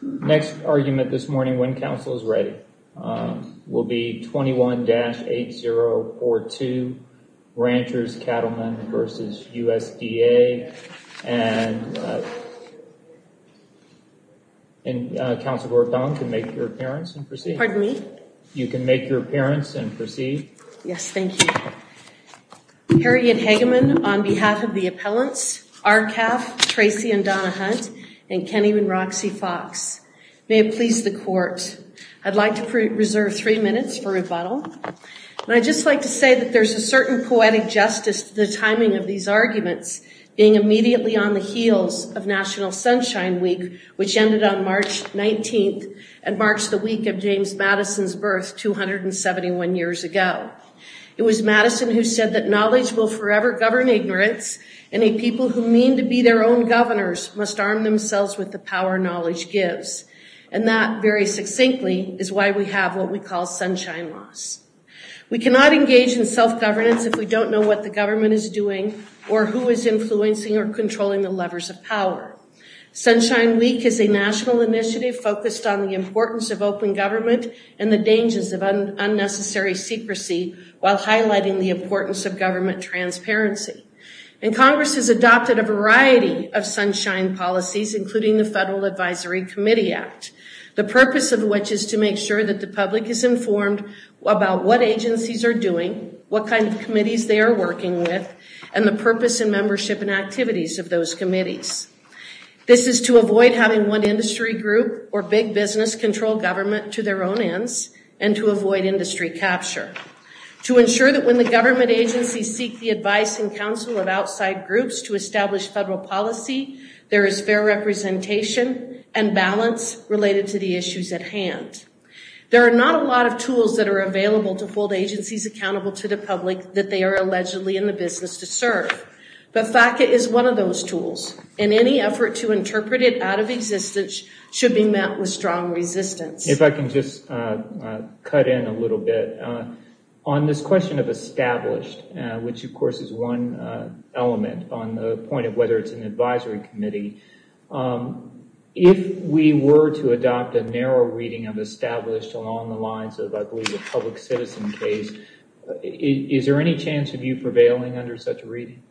Next argument this morning when council is ready will be 21-8042 Ranchers Cattlemen v. USDA. And Council Gordon, you can make your appearance and proceed. Pardon me? You can make your appearance and proceed. Yes, thank you. Harriet Hageman on behalf of the appellants, RCAF, Tracy and Donna Hunt, and Kenny and Roxy Fox. May it please the court. I'd like to reserve three minutes for rebuttal. And I'd just like to say that there's a certain poetic justice to the timing of these arguments being immediately on the heels of National Sunshine Week, which ended on March 19th and marks the week of James Madison's birth 271 years ago. It was Madison who said that knowledge will forever govern ignorance and a people who mean to be their own governors must arm themselves with the power knowledge gives. And that very succinctly is why we have what we call sunshine loss. We cannot engage in self-governance if we don't know what the government is doing or who is influencing or controlling the levers of power. Sunshine Week is a national initiative focused on the importance of open government and the dangers of unnecessary secrecy while highlighting the importance of government transparency. And Congress has adopted a variety of sunshine policies, including the Federal Advisory Committee Act, the purpose of which is to make sure that the public is informed about what agencies are doing, what kind of committees they are working with, and the purpose and membership and activities of those committees. This is to avoid having one industry group or big business control government to their own ends and to avoid industry capture. To ensure that when the government agencies seek the advice and counsel of outside groups to establish federal policy, there is fair representation and balance related to the issues at hand. There are not a lot of tools that are available to hold agencies accountable to the public that they are allegedly in the business to serve. But FACA is one of those tools. And any effort to interpret it out of existence should be met with strong resistance. If I can just cut in a little bit. On this question of established, which of course is one element on the point of whether it's an advisory committee, if we were to adopt a narrow reading of established along the lines of, I believe, a public citizen case, is there any chance of you prevailing under such a reading?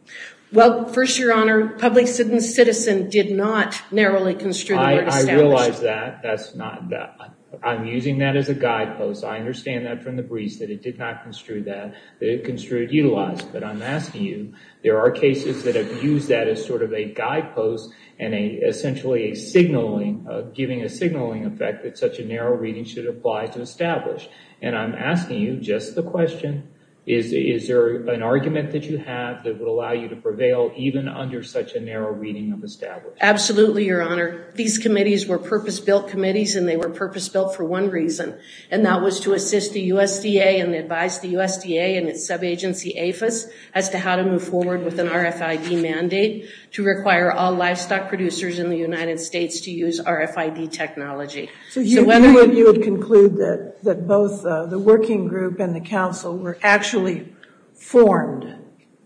Well, first, Your Honor, public citizen did not narrowly construe the word established. I realize that. That's not that. I'm using that as a guidepost. I understand that from the briefs, that it did not construe that, that it construed utilized. But I'm asking you, there are cases that have used that as sort of a guidepost and essentially a signaling, giving a signaling effect that such a narrow reading should apply to established. And I'm asking you just the question, is there an argument that you have that would allow you to prevail even under such a narrow reading of established? Absolutely, Your Honor. These committees were purpose-built committees and they were purpose-built for one reason. And that was to assist the USDA and advise the USDA and its sub-agency APHIS as to how to move forward with an RFID mandate to require all livestock producers in the United States to use RFID technology. So you would conclude that both the working group and the council were actually formed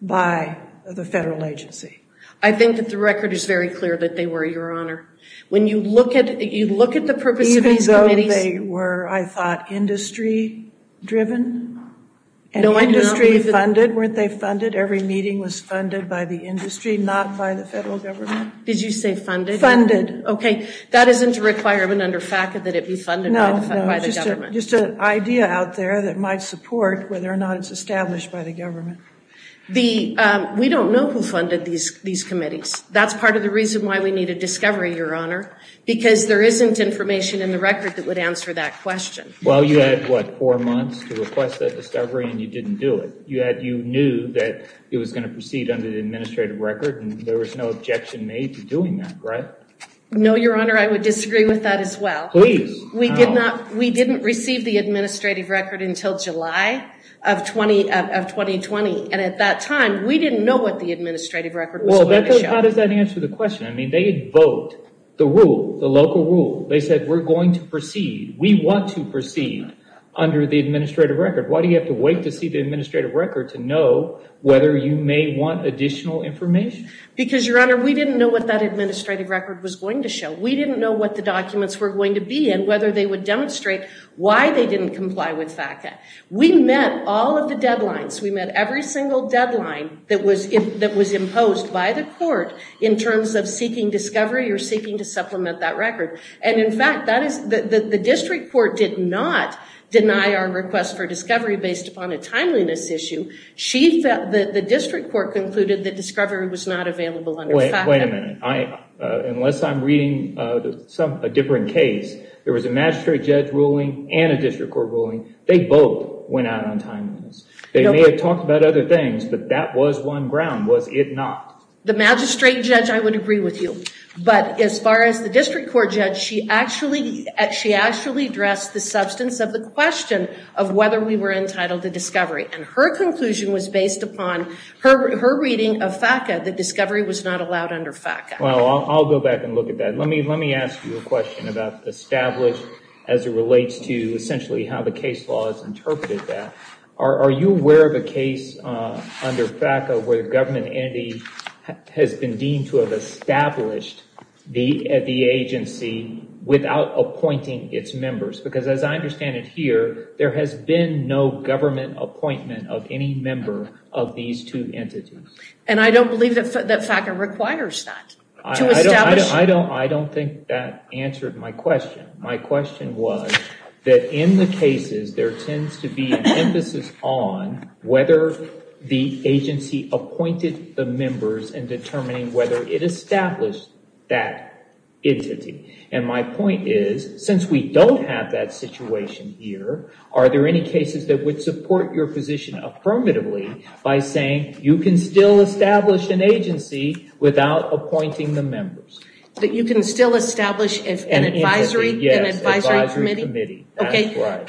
by the federal agency? I think that the record is very clear that they were, Your Honor. When you look at, you look at the purpose of these committees. Even though they were, I thought, industry-driven? No, industry-driven. And industry-funded? Weren't they funded? Every meeting was funded by the industry, not by the federal government? Did you say funded? Funded. Okay, that isn't a requirement under FACA that it be funded by the government? No, just an idea out there that might support whether or not it's established by the government. We don't know who funded these committees. That's part of the reason why we need a discovery, Your Honor, because there isn't information in the record that would answer that question. Well, you had, what, four months to request that discovery and you didn't do it. You knew that it was going to proceed under the administrative record and there was no objection made to doing that, right? No, Your Honor, I would disagree with that as well. Please. We did not, we didn't receive the administrative record until July of 2020. And at that time, we didn't know what the administrative record was going to show. Well, how does that answer the question? I mean, they had voked the rule, the local rule. They said, we're going to proceed, we want to proceed under the administrative record. Why do you have to wait to see the administrative record to know whether you may want additional information? Because, Your Honor, we didn't know what that administrative record was going to show. We didn't know what the documents were going to be and whether they would demonstrate why they didn't comply with FACA. We met all of the deadlines. We met every single deadline that was imposed by the court in terms of seeking discovery or seeking to supplement that record. And, in fact, the district court did not deny our request for discovery based upon a timeliness issue. The district court concluded that discovery was not available under FACA. Wait a minute. Unless I'm reading a different case, there was a magistrate judge ruling and a district court ruling. They both went out on timeliness. They may have talked about other things, but that was one ground, was it not? The magistrate judge, I would agree with you. But as far as the district court judge, she actually addressed the substance of the question of whether we were entitled to discovery. And her conclusion was based upon her reading of FACA that discovery was not allowed under FACA. Well, I'll go back and look at that. Let me ask you a question about established as it relates to essentially how the case law has interpreted that. Are you aware of a case under FACA where the government entity has been deemed to have established the agency without appointing its members? Because as I understand it here, there has been no government appointment of any member of these two entities. And I don't believe that FACA requires that to establish. I don't think that answered my question. My question was that in the cases, there tends to be an emphasis on whether the agency appointed the members and determining whether it established that entity. And my point is, since we don't have that situation here, are there any cases that would support your position affirmatively by saying you can still establish an agency without appointing the members? That you can still establish an advisory committee? Yes, an advisory committee.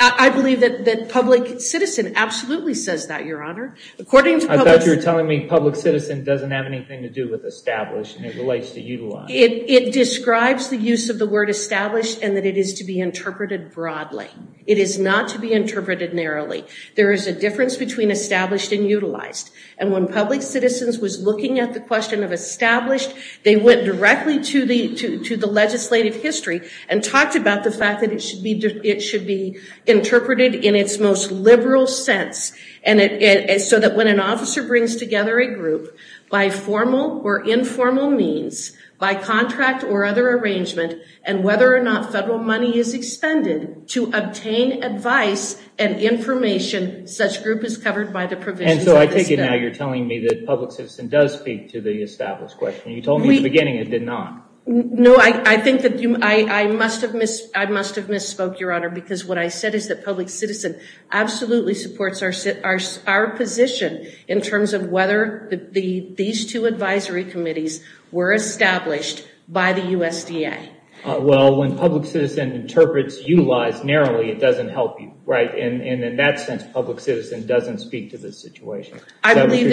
I believe that public citizen absolutely says that, Your Honor. I thought you were telling me public citizen doesn't have anything to do with established and it relates to utilized. It describes the use of the word established and that it is to be interpreted broadly. It is not to be interpreted narrowly. There is a difference between established and utilized. And when public citizens was looking at the question of established, they went directly to the legislative history and talked about the fact that it should be interpreted in its most liberal sense. So that when an officer brings together a group by formal or informal means, by contract or other arrangement, and whether or not federal money is expended to obtain advice and information, such group is covered by the provisions of the statute. I take it now you're telling me that public citizen does speak to the established question. You told me at the beginning it did not. No, I think that I must have misspoke, Your Honor, because what I said is that public citizen absolutely supports our position in terms of whether these two advisory committees were established by the USDA. Well, when public citizen interprets utilized narrowly, it doesn't help you, right? And in that sense, public citizen doesn't speak to this situation. I believe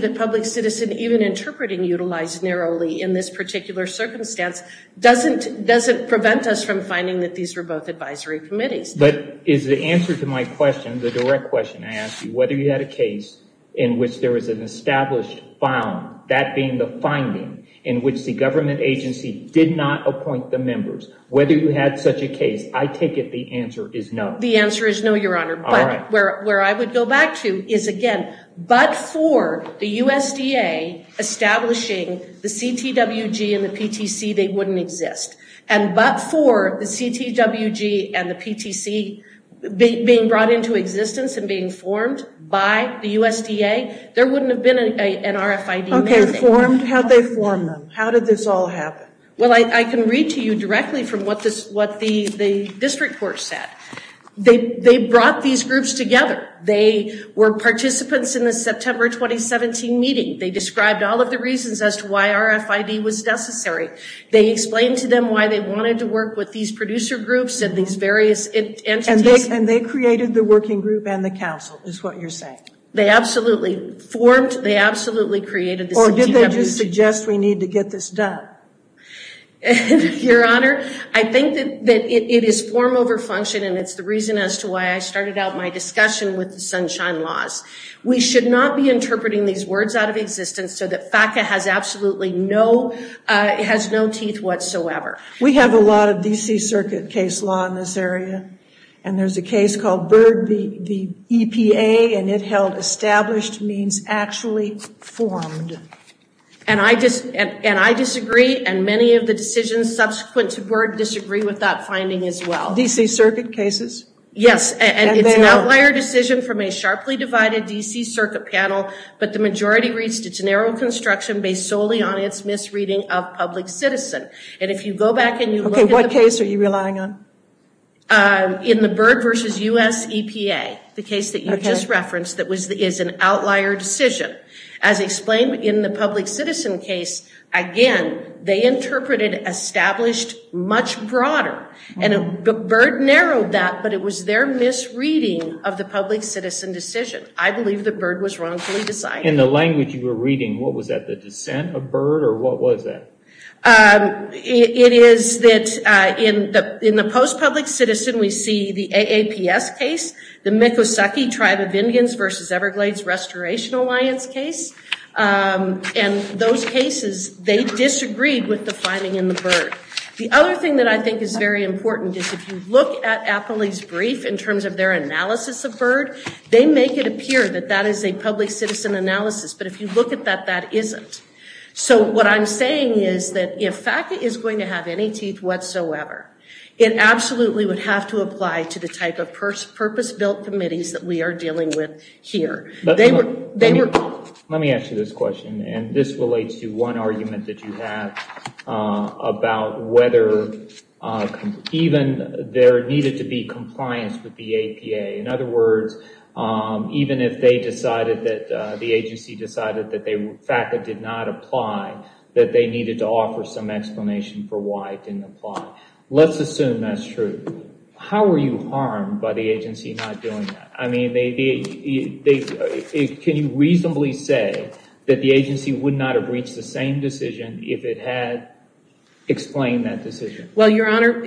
that public citizen even interpreting utilized narrowly in this particular circumstance doesn't prevent us from finding that these were both advisory committees. But is the answer to my question, the direct question I ask you, whether you had a case in which there was an established bond, that being the finding in which the government agency did not appoint the members, whether you had such a case, I take it the answer is no. The answer is no, Your Honor. All right. And that's where I would go back to is, again, but for the USDA establishing the CTWG and the PTC, they wouldn't exist. And but for the CTWG and the PTC being brought into existence and being formed by the USDA, there wouldn't have been an RFID mandate. Okay, formed? How'd they form them? How did this all happen? Well, I can read to you directly from what the district court said. They brought these groups together. They were participants in the September 2017 meeting. They described all of the reasons as to why RFID was necessary. They explained to them why they wanted to work with these producer groups and these various entities. And they created the working group and the council, is what you're saying? They absolutely formed, they absolutely created the CTWG. Or did they just suggest we need to get this done? Your Honor, I think that it is form over function, and it's the reason as to why I started out my discussion with the Sunshine Laws. We should not be interpreting these words out of existence so that FACA has absolutely no teeth whatsoever. We have a lot of D.C. Circuit case law in this area. And there's a case called Byrd v. EPA, and it held established means actually formed. And I disagree, and many of the decisions subsequent to Byrd disagree with that finding as well. D.C. Circuit cases? Yes, and it's an outlier decision from a sharply divided D.C. Circuit panel, but the majority reached its narrow construction based solely on its misreading of public citizen. And if you go back and you look at the… Okay, what case are you relying on? In the Byrd v. U.S. EPA, the case that you just referenced that is an outlier decision. As explained in the public citizen case, again, they interpreted established much broader. And Byrd narrowed that, but it was their misreading of the public citizen decision. I believe that Byrd was wrongfully decided. In the language you were reading, what was that, the dissent of Byrd, or what was that? It is that in the post-public citizen, we see the AAPS case, the Miccosukee Tribe of Indians v. Everglades Restoration Alliance case. And those cases, they disagreed with the finding in the Byrd. The other thing that I think is very important is if you look at Appley's brief in terms of their analysis of Byrd, they make it appear that that is a public citizen analysis. But if you look at that, that isn't. So what I'm saying is that if FACA is going to have any teeth whatsoever, it absolutely would have to apply to the type of purpose-built committees that we are dealing with here. Let me ask you this question. And this relates to one argument that you have about whether even there needed to be compliance with the APA. In other words, even if the agency decided that FACA did not apply, that they needed to offer some explanation for why it didn't apply. Let's assume that's true. How were you harmed by the agency not doing that? I mean, can you reasonably say that the agency would not have reached the same decision if it had explained that decision? Well, Your Honor,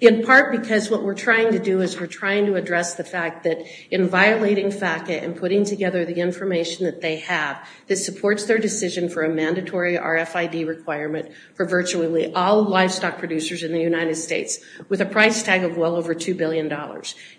in part because what we're trying to do is we're trying to address the fact that in violating FACA and putting together the information that they have, this supports their decision for a mandatory RFID requirement for virtually all livestock producers in the United States with a price tag of well over $2 billion.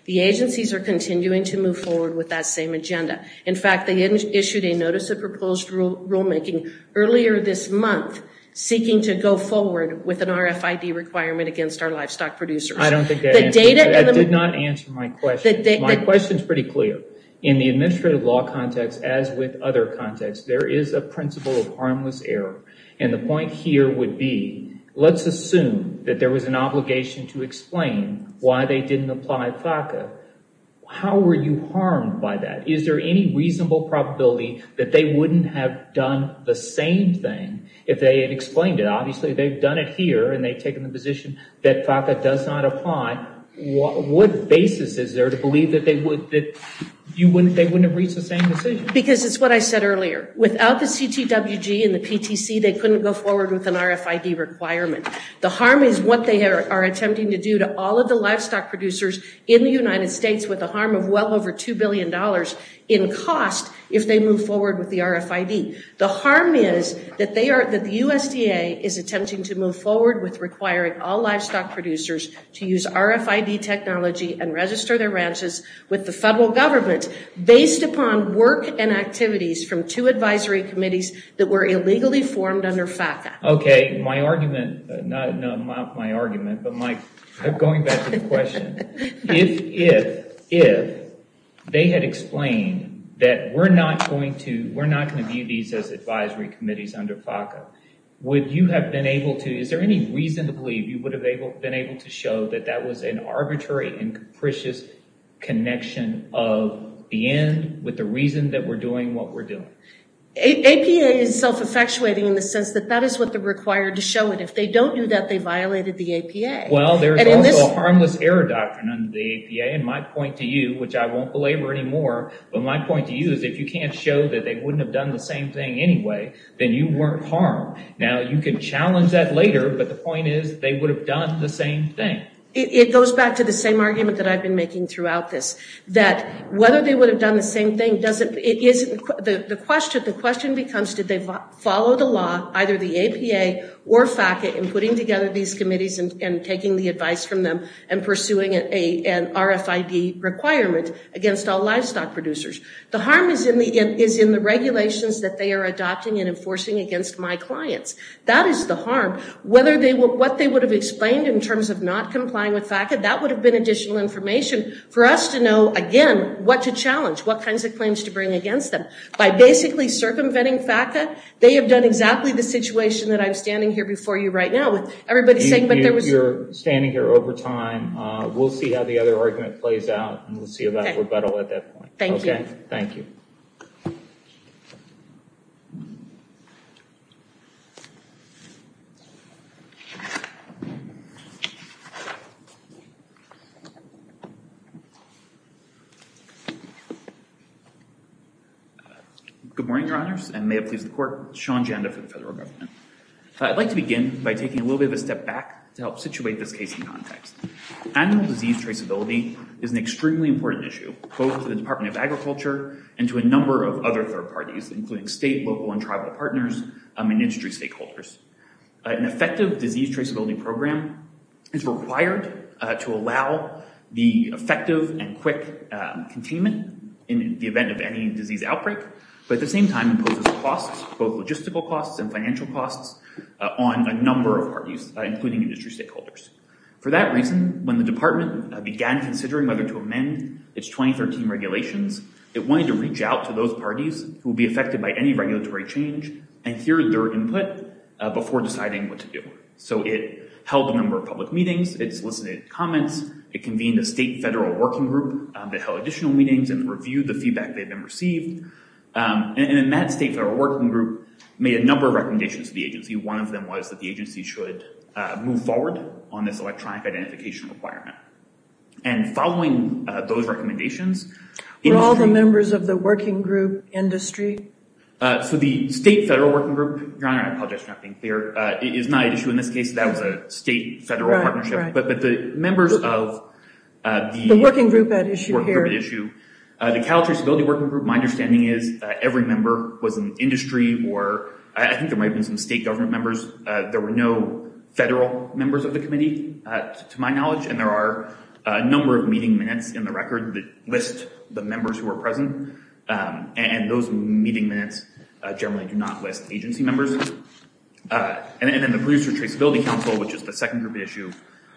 The agencies are continuing to move forward with that same agenda. In fact, they issued a notice of proposed rulemaking earlier this month seeking to go forward with an RFID requirement against our livestock producers. I did not answer my question. My question is pretty clear. In the administrative law context, as with other contexts, there is a principle of harmless error. And the point here would be, let's assume that there was an obligation to explain why they didn't apply FACA. How were you harmed by that? Is there any reasonable probability that they wouldn't have done the same thing if they had explained it? Obviously, they've done it here and they've taken the position that FACA does not apply. What basis is there to believe that they wouldn't have reached the same decision? Because it's what I said earlier. Without the CTWG and the PTC, they couldn't go forward with an RFID requirement. The harm is what they are attempting to do to all of the livestock producers in the United States with the harm of well over $2 billion in cost if they move forward with the RFID. The harm is that the USDA is attempting to move forward with requiring all livestock producers to use RFID technology and register their ranches with the federal government based upon work and activities from two advisory committees that were illegally formed under FACA. Okay, my argument, not my argument, but going back to the question. If they had explained that we're not going to view these as advisory committees under FACA, would you have been able to, is there any reason to believe you would have been able to show that that was an arbitrary and capricious connection of the end with the reason that we're doing what we're doing? APA is self-effectuating in the sense that that is what they're required to show. And if they don't do that, they violated the APA. Well, there's also a harmless error doctrine under the APA. And my point to you, which I won't belabor anymore, but my point to you is if you can't show that they wouldn't have done the same thing anyway, then you weren't harmed. Now, you can challenge that later, but the point is they would have done the same thing. It goes back to the same argument that I've been making throughout this, that whether they would have done the same thing, the question becomes, did they follow the law, either the APA or FACA, in putting together these committees and taking the advice from them and pursuing an RFID requirement against all livestock producers? The harm is in the regulations that they are adopting and enforcing against my clients. That is the harm. What they would have explained in terms of not complying with FACA, that would have been additional information for us to know, again, what to challenge, what kinds of claims to bring against them. By basically circumventing FACA, they have done exactly the situation that I'm standing here before you right now with everybody saying, You're standing here over time. We'll see how the other argument plays out, and we'll see if we're better at that point. Thank you. Thank you. Good morning, Your Honors, and may it please the Court. Sean Janda for the federal government. I'd like to begin by taking a little bit of a step back to help situate this case in context. Animal disease traceability is an extremely important issue, both to the Department of Agriculture and to a number of other third parties, including state, local, and tribal partners and industry stakeholders. An effective disease traceability program is required to allow the effective and quick containment in the event of any disease outbreak, but at the same time imposes costs, both logistical costs and financial costs, on a number of parties, including industry stakeholders. For that reason, when the department began considering whether to amend its 2013 regulations, it wanted to reach out to those parties who would be affected by any regulatory change and hear their input before deciding what to do. So it held a number of public meetings. It solicited comments. It convened a state-federal working group that held additional meetings and reviewed the feedback they had received. And that state-federal working group made a number of recommendations to the agency. One of them was that the agency should move forward on this electronic identification requirement. And following those recommendations- Were all the members of the working group industry? So the state-federal working group, Your Honor, I apologize for not being clear, is not at issue in this case. That was a state-federal partnership. Right, right. But the members of the- The working group at issue here. The working group at issue. The Cattle Traceability Working Group, my understanding is every member was an industry or I think there might have been some state government members. There were no federal members of the committee, to my knowledge, and there are a number of meeting minutes in the record that list the members who were present. And those meeting minutes generally do not list agency members. And then the Producer Traceability Council, which is the second group at issue,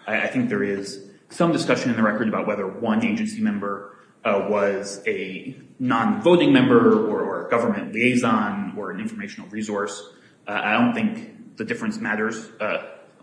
I think there is some discussion in the record about whether one agency member was a non-voting member or a government liaison or an informational resource. I don't think the difference matters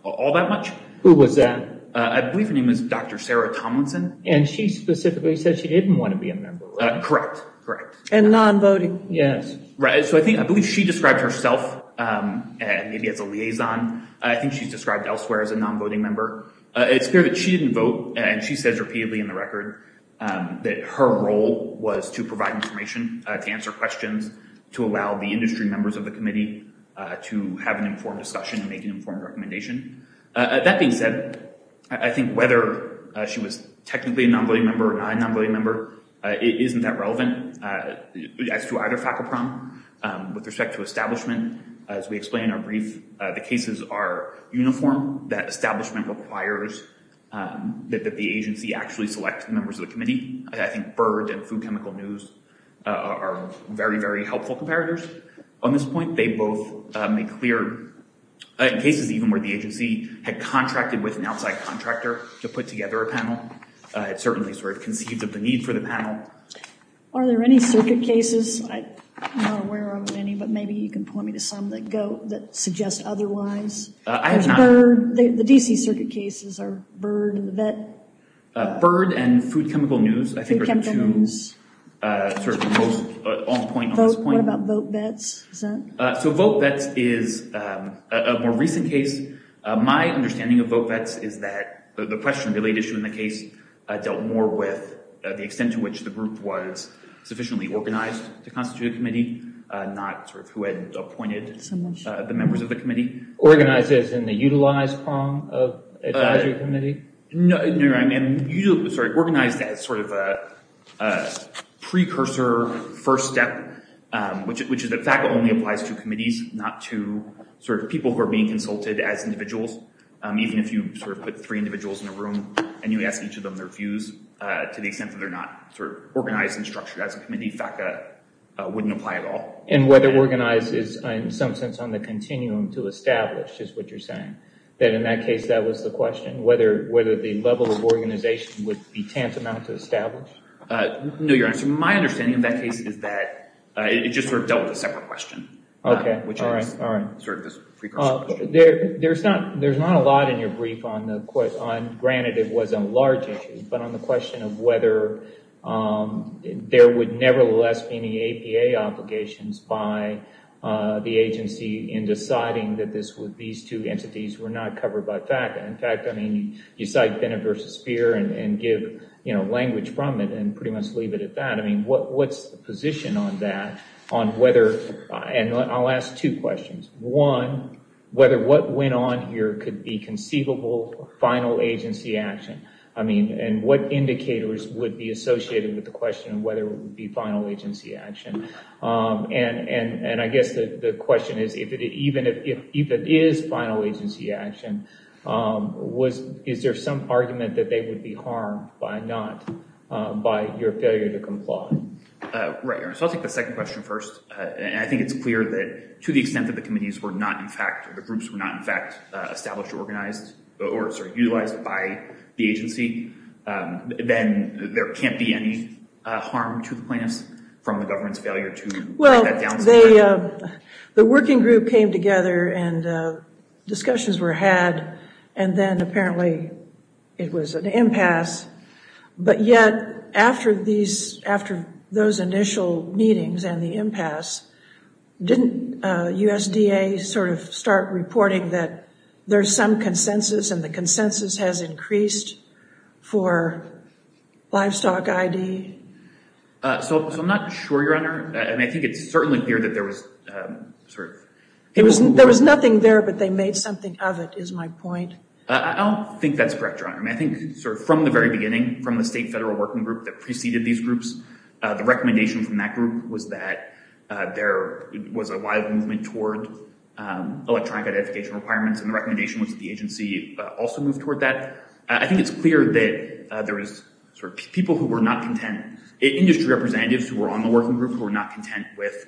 all that much. Who was that? I believe her name was Dr. Sarah Tomlinson. And she specifically said she didn't want to be a member, right? Correct, correct. And non-voting? Yes. Right, so I believe she described herself maybe as a liaison. I think she's described elsewhere as a non-voting member. It's clear that she didn't vote, and she says repeatedly in the record that her role was to provide information, to answer questions, to allow the industry members of the committee to have an informed discussion and make an informed recommendation. That being said, I think whether she was technically a non-voting member or not a non-voting member isn't that relevant. As to either FACCPROM, with respect to establishment, as we explained in our brief, the cases are uniform. That establishment requires that the agency actually select members of the committee. I think BIRD and Food Chemical News are very, very helpful comparators on this point. They both make clear, in cases even where the agency had contracted with an outside contractor to put together a panel, it certainly conceived of the need for the panel. Are there any circuit cases? I'm not aware of any, but maybe you can point me to some that suggest otherwise. The D.C. circuit cases are BIRD and the VET. BIRD and Food Chemical News, I think, are the two most on point on this point. What about VoteVets? VoteVets is a more recent case. My understanding of VoteVets is that the question, the latest issue in the case, dealt more with the extent to which the group was sufficiently organized to constitute a committee, not who had appointed the members of the committee. Organized as in the utilize prong of advisory committee? No, I mean, organized as sort of a precursor first step, which is that FACCPROM only applies to committees, not to people who are being consulted as individuals. Even if you put three individuals in a room and you ask each of them their views, to the extent that they're not organized and structured as a committee, FACCPR wouldn't apply at all. And whether organized is, in some sense, on the continuum to establish is what you're saying, that in that case that was the question, whether the level of organization would be tantamount to established? No, Your Honor. My understanding of that case is that it just dealt with a separate question, which is sort of this precursor question. There's not a lot in your brief on the, granted it was a large issue, but on the question of whether there would nevertheless be any APA obligations by the agency in deciding that these two entities were not covered by FACA. In fact, I mean, you cite Bennett v. Speer and give language from it and pretty much leave it at that. I mean, what's the position on that, on whether, and I'll ask two questions. One, whether what went on here could be conceivable final agency action. I mean, and what indicators would be associated with the question of whether it would be final agency action? And I guess the question is, even if it is final agency action, is there some argument that they would be harmed by not, by your failure to comply? Right, Your Honor. So I'll take the second question first. And I think it's clear that to the extent that the committees were not in fact, the groups were not in fact established or organized or utilized by the agency, then there can't be any harm to the plaintiffs from the government's failure to break that down. The working group came together and discussions were had, and then apparently it was an impasse. But yet, after those initial meetings and the impasse, didn't USDA sort of start reporting that there's some consensus and the consensus has increased for livestock ID? So I'm not sure, Your Honor. I mean, I think it's certainly clear that there was sort of... There was nothing there, but they made something of it, is my point. I don't think that's correct, Your Honor. I mean, I think sort of from the very beginning, from the state federal working group that preceded these groups, the recommendation from that group was that there was a wild movement toward electronic identification requirements, and the recommendation was that the agency also move toward that. I think it's clear that there was sort of people who were not content, industry representatives who were on the working group who were not content with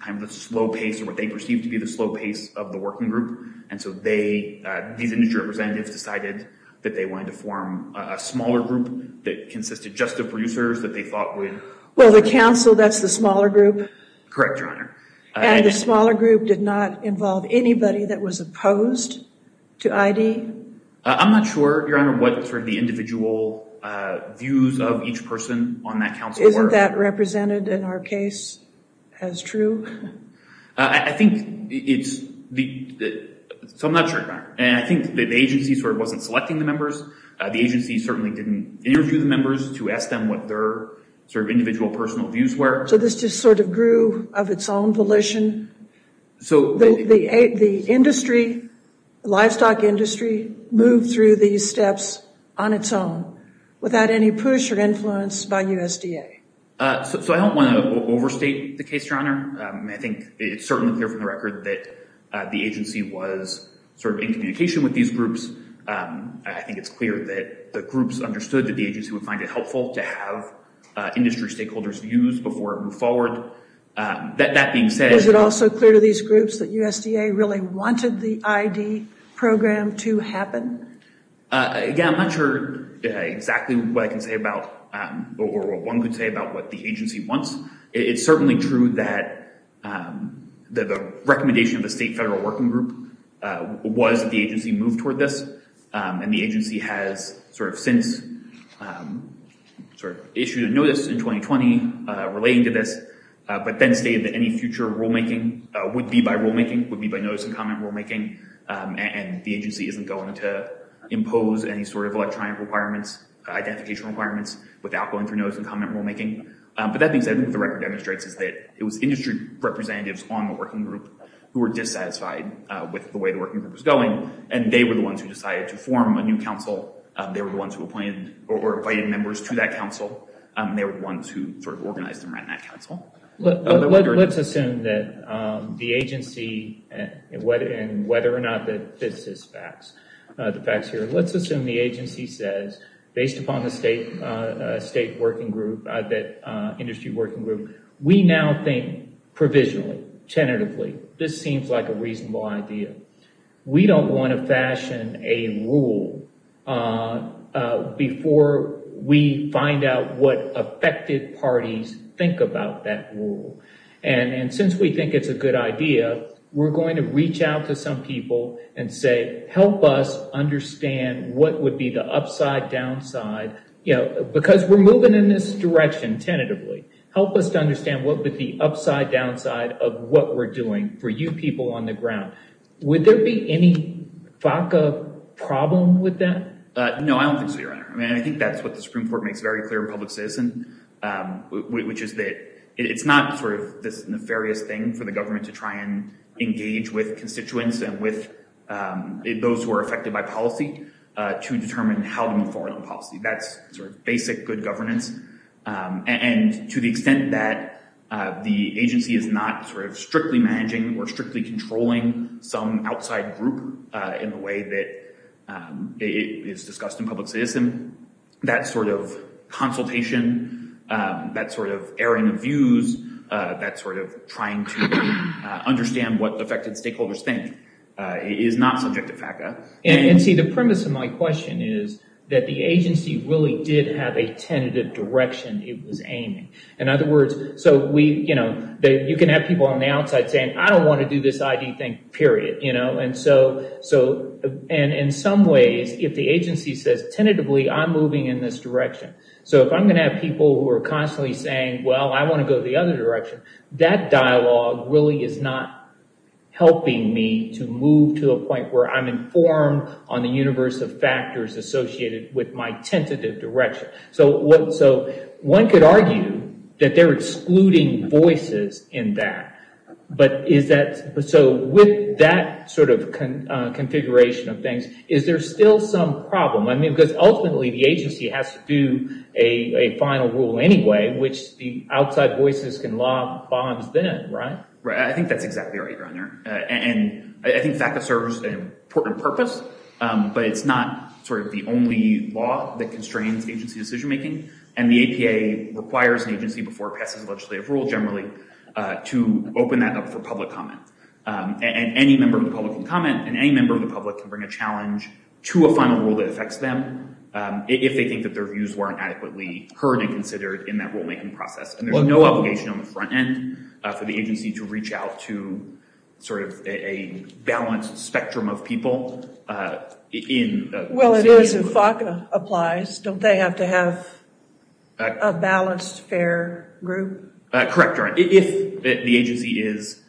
kind of the slow pace or what they perceived to be the slow pace of the working group, and so these industry representatives decided that they wanted to form a smaller group that consisted just of producers that they thought would... Well, the council, that's the smaller group? Correct, Your Honor. And the smaller group did not involve anybody that was opposed to ID? I'm not sure, Your Honor, what sort of the individual views of each person on that council were. Isn't that represented in our case as true? I think it's... So I'm not sure, Your Honor, and I think the agency sort of wasn't selecting the members. The agency certainly didn't interview the members to ask them what their sort of individual personal views were. So this just sort of grew of its own volition? The industry, the livestock industry, moved through these steps on its own without any push or influence by USDA? So I don't want to overstate the case, Your Honor. I think it's certainly clear from the record that the agency was sort of in communication with these groups. I think it's clear that the groups understood that the agency would find it helpful to have industry stakeholders' views before it moved forward. That being said... Is it also clear to these groups that USDA really wanted the ID program to happen? Again, I'm not sure exactly what I can say about or what one could say about what the agency wants. It's certainly true that the recommendation of the state federal working group was that the agency move toward this, and the agency has sort of since issued a notice in 2020 relating to this, but then stated that any future rulemaking would be by rulemaking, would be by notice and comment rulemaking, and the agency isn't going to impose any sort of electronic requirements, identification requirements, without going through notice and comment rulemaking. But that being said, what the record demonstrates is that it was industry representatives on the working group who were dissatisfied with the way the working group was going, and they were the ones who decided to form a new council. They were the ones who appointed or invited members to that council. They were the ones who sort of organized and ran that council. Let's assume that the agency, and whether or not that this is facts, the facts here, let's assume the agency says, based upon the state working group, that industry working group, we now think provisionally, tentatively, this seems like a reasonable idea. We don't want to fashion a rule before we find out what affected parties think about that rule. And since we think it's a good idea, we're going to reach out to some people and say, help us understand what would be the upside, downside, because we're moving in this direction tentatively. Help us to understand what would be the upside, downside of what we're doing for you people on the ground. Would there be any FACA problem with that? No, I don't think so, Your Honor. I mean, I think that's what the Supreme Court makes very clear in public citizen, which is that it's not sort of this nefarious thing for the government to try and engage with constituents and with those who are affected by policy to determine how to move forward on policy. That's sort of basic good governance. And to the extent that the agency is not sort of strictly managing or strictly controlling some outside group in the way that is discussed in public citizen, that sort of consultation, that sort of airing of views, that sort of trying to understand what affected stakeholders think is not subject to FACA. And see, the premise of my question is that the agency really did have a tentative direction it was aiming. In other words, you can have people on the outside saying, I don't want to do this ID thing, period. And in some ways, if the agency says tentatively, I'm moving in this direction, so if I'm going to have people who are constantly saying, well, I want to go the other direction, that dialogue really is not helping me to move to a point where I'm informed on the universe of factors associated with my tentative direction. So one could argue that they're excluding voices in that. So with that sort of configuration of things, is there still some problem? I mean, because ultimately, the agency has to do a final rule anyway, which the outside voices can lob bombs then, right? Right. I think that's exactly right, Your Honor. And I think FACA serves an important purpose, but it's not sort of the only law that constrains agency decision-making. And the APA requires an agency before it passes a legislative rule generally to open that up for public comment. And any member of the public can comment, and any member of the public can bring a challenge to a final rule that affects them if they think that their views weren't adequately heard and considered in that rulemaking process. And there's no obligation on the front end for the agency to reach out to sort of a balanced spectrum of people. Well, it is if FACA applies. Don't they have to have a balanced, fair group? Correct, Your Honor. If the agency is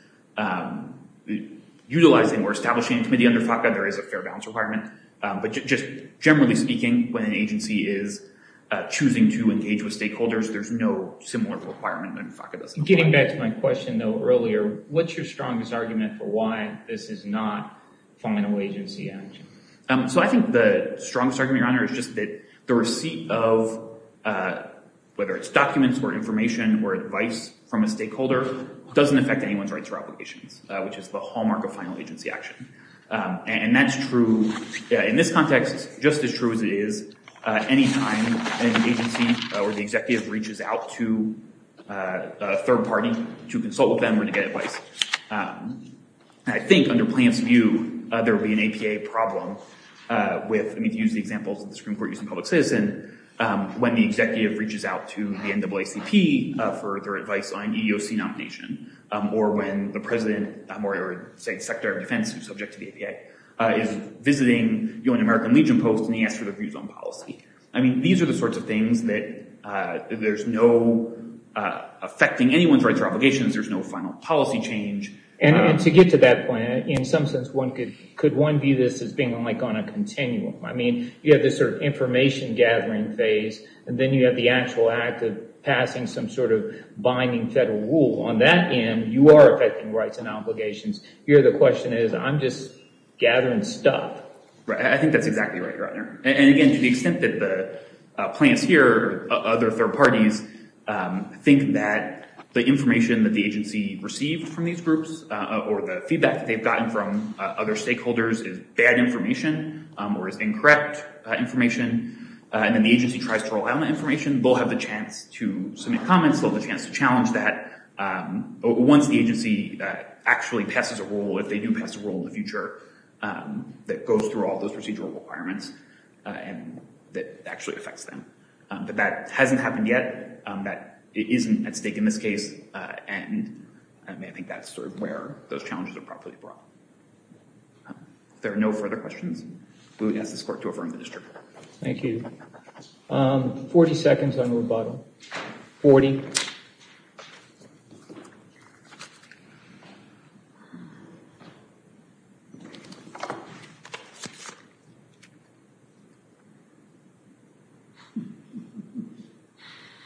utilizing or establishing a committee under FACA, there is a fair balance requirement. But just generally speaking, when an agency is choosing to engage with stakeholders, there's no similar requirement that FACA doesn't apply. Getting back to my question, though, earlier, what's your strongest argument for why this is not final agency action? So I think the strongest argument, Your Honor, is just that the receipt of, whether it's documents or information or advice from a stakeholder, doesn't affect anyone's rights or obligations, which is the hallmark of final agency action. And that's true in this context just as true as it is any time an agency or the executive reaches out to a third party to consult with them or to get advice. I think under Plante's view, there would be an APA problem with, I mean, to use the examples of the Supreme Court using public citizen, when the executive reaches out to the NAACP for their advice on EEOC nomination, or when the president or, say, the Secretary of Defense, who's subject to the APA, is visiting an American Legion post and he asks for their views on policy. I mean, these are the sorts of things that there's no, affecting anyone's rights or obligations, there's no final policy change. And to get to that point, in some sense, could one view this as being like on a continuum? I mean, you have this sort of information gathering phase, and then you have the actual act of passing some sort of binding federal rule. On that end, you are affecting rights and obligations. Here the question is, I'm just gathering stuff. Right. I think that's exactly right, Your Honor. And, again, to the extent that the Plante's here, other third parties, think that the information that the agency received from these groups or the feedback that they've gotten from other stakeholders is bad information or is incorrect information, and then the agency tries to rely on that information, they'll have the chance to submit comments, they'll have the chance to challenge that. Once the agency actually passes a rule, if they do pass a rule in the future, that goes through all those procedural requirements, that actually affects them. But that hasn't happened yet, that isn't at stake in this case, and I think that's sort of where those challenges are properly brought. If there are no further questions, we'll ask this Court to affirm the district. Thank you. 40 seconds on the rebuttal. 40.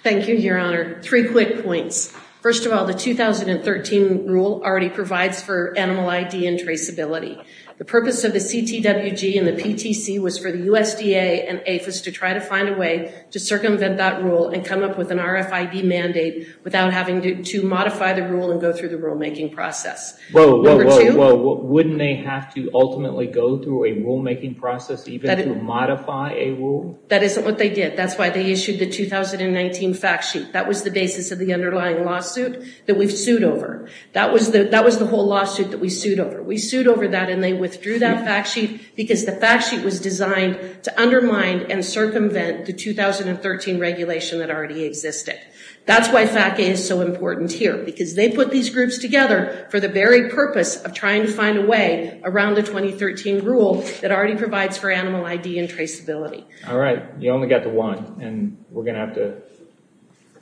Thank you, Your Honor. Three quick points. First of all, the 2013 rule already provides for animal ID and traceability. The purpose of the CTWG and the PTC was for the USDA and APHIS to try to find a way to circumvent that rule and come up with an RFID mandate without having to modify the rule and go through the rulemaking process. Whoa, whoa, whoa, whoa. Wouldn't they have to ultimately go through a rulemaking process even to modify a rule? That isn't what they did. That's why they issued the 2019 fact sheet. That was the basis of the underlying lawsuit that we've sued over. That was the whole lawsuit that we sued over. We sued over that, and they withdrew that fact sheet because the fact sheet was designed to undermine and circumvent the 2013 regulation that already existed. That's why FACA is so important here, because they put these groups together for the very purpose of trying to find a way around the 2013 rule that already provides for animal ID and traceability. All right. You only got to one, and we're going to have to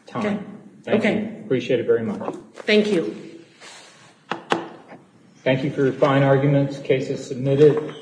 time. Okay. Okay. I appreciate it very much. Thank you. Thank you for your fine arguments. Case is submitted.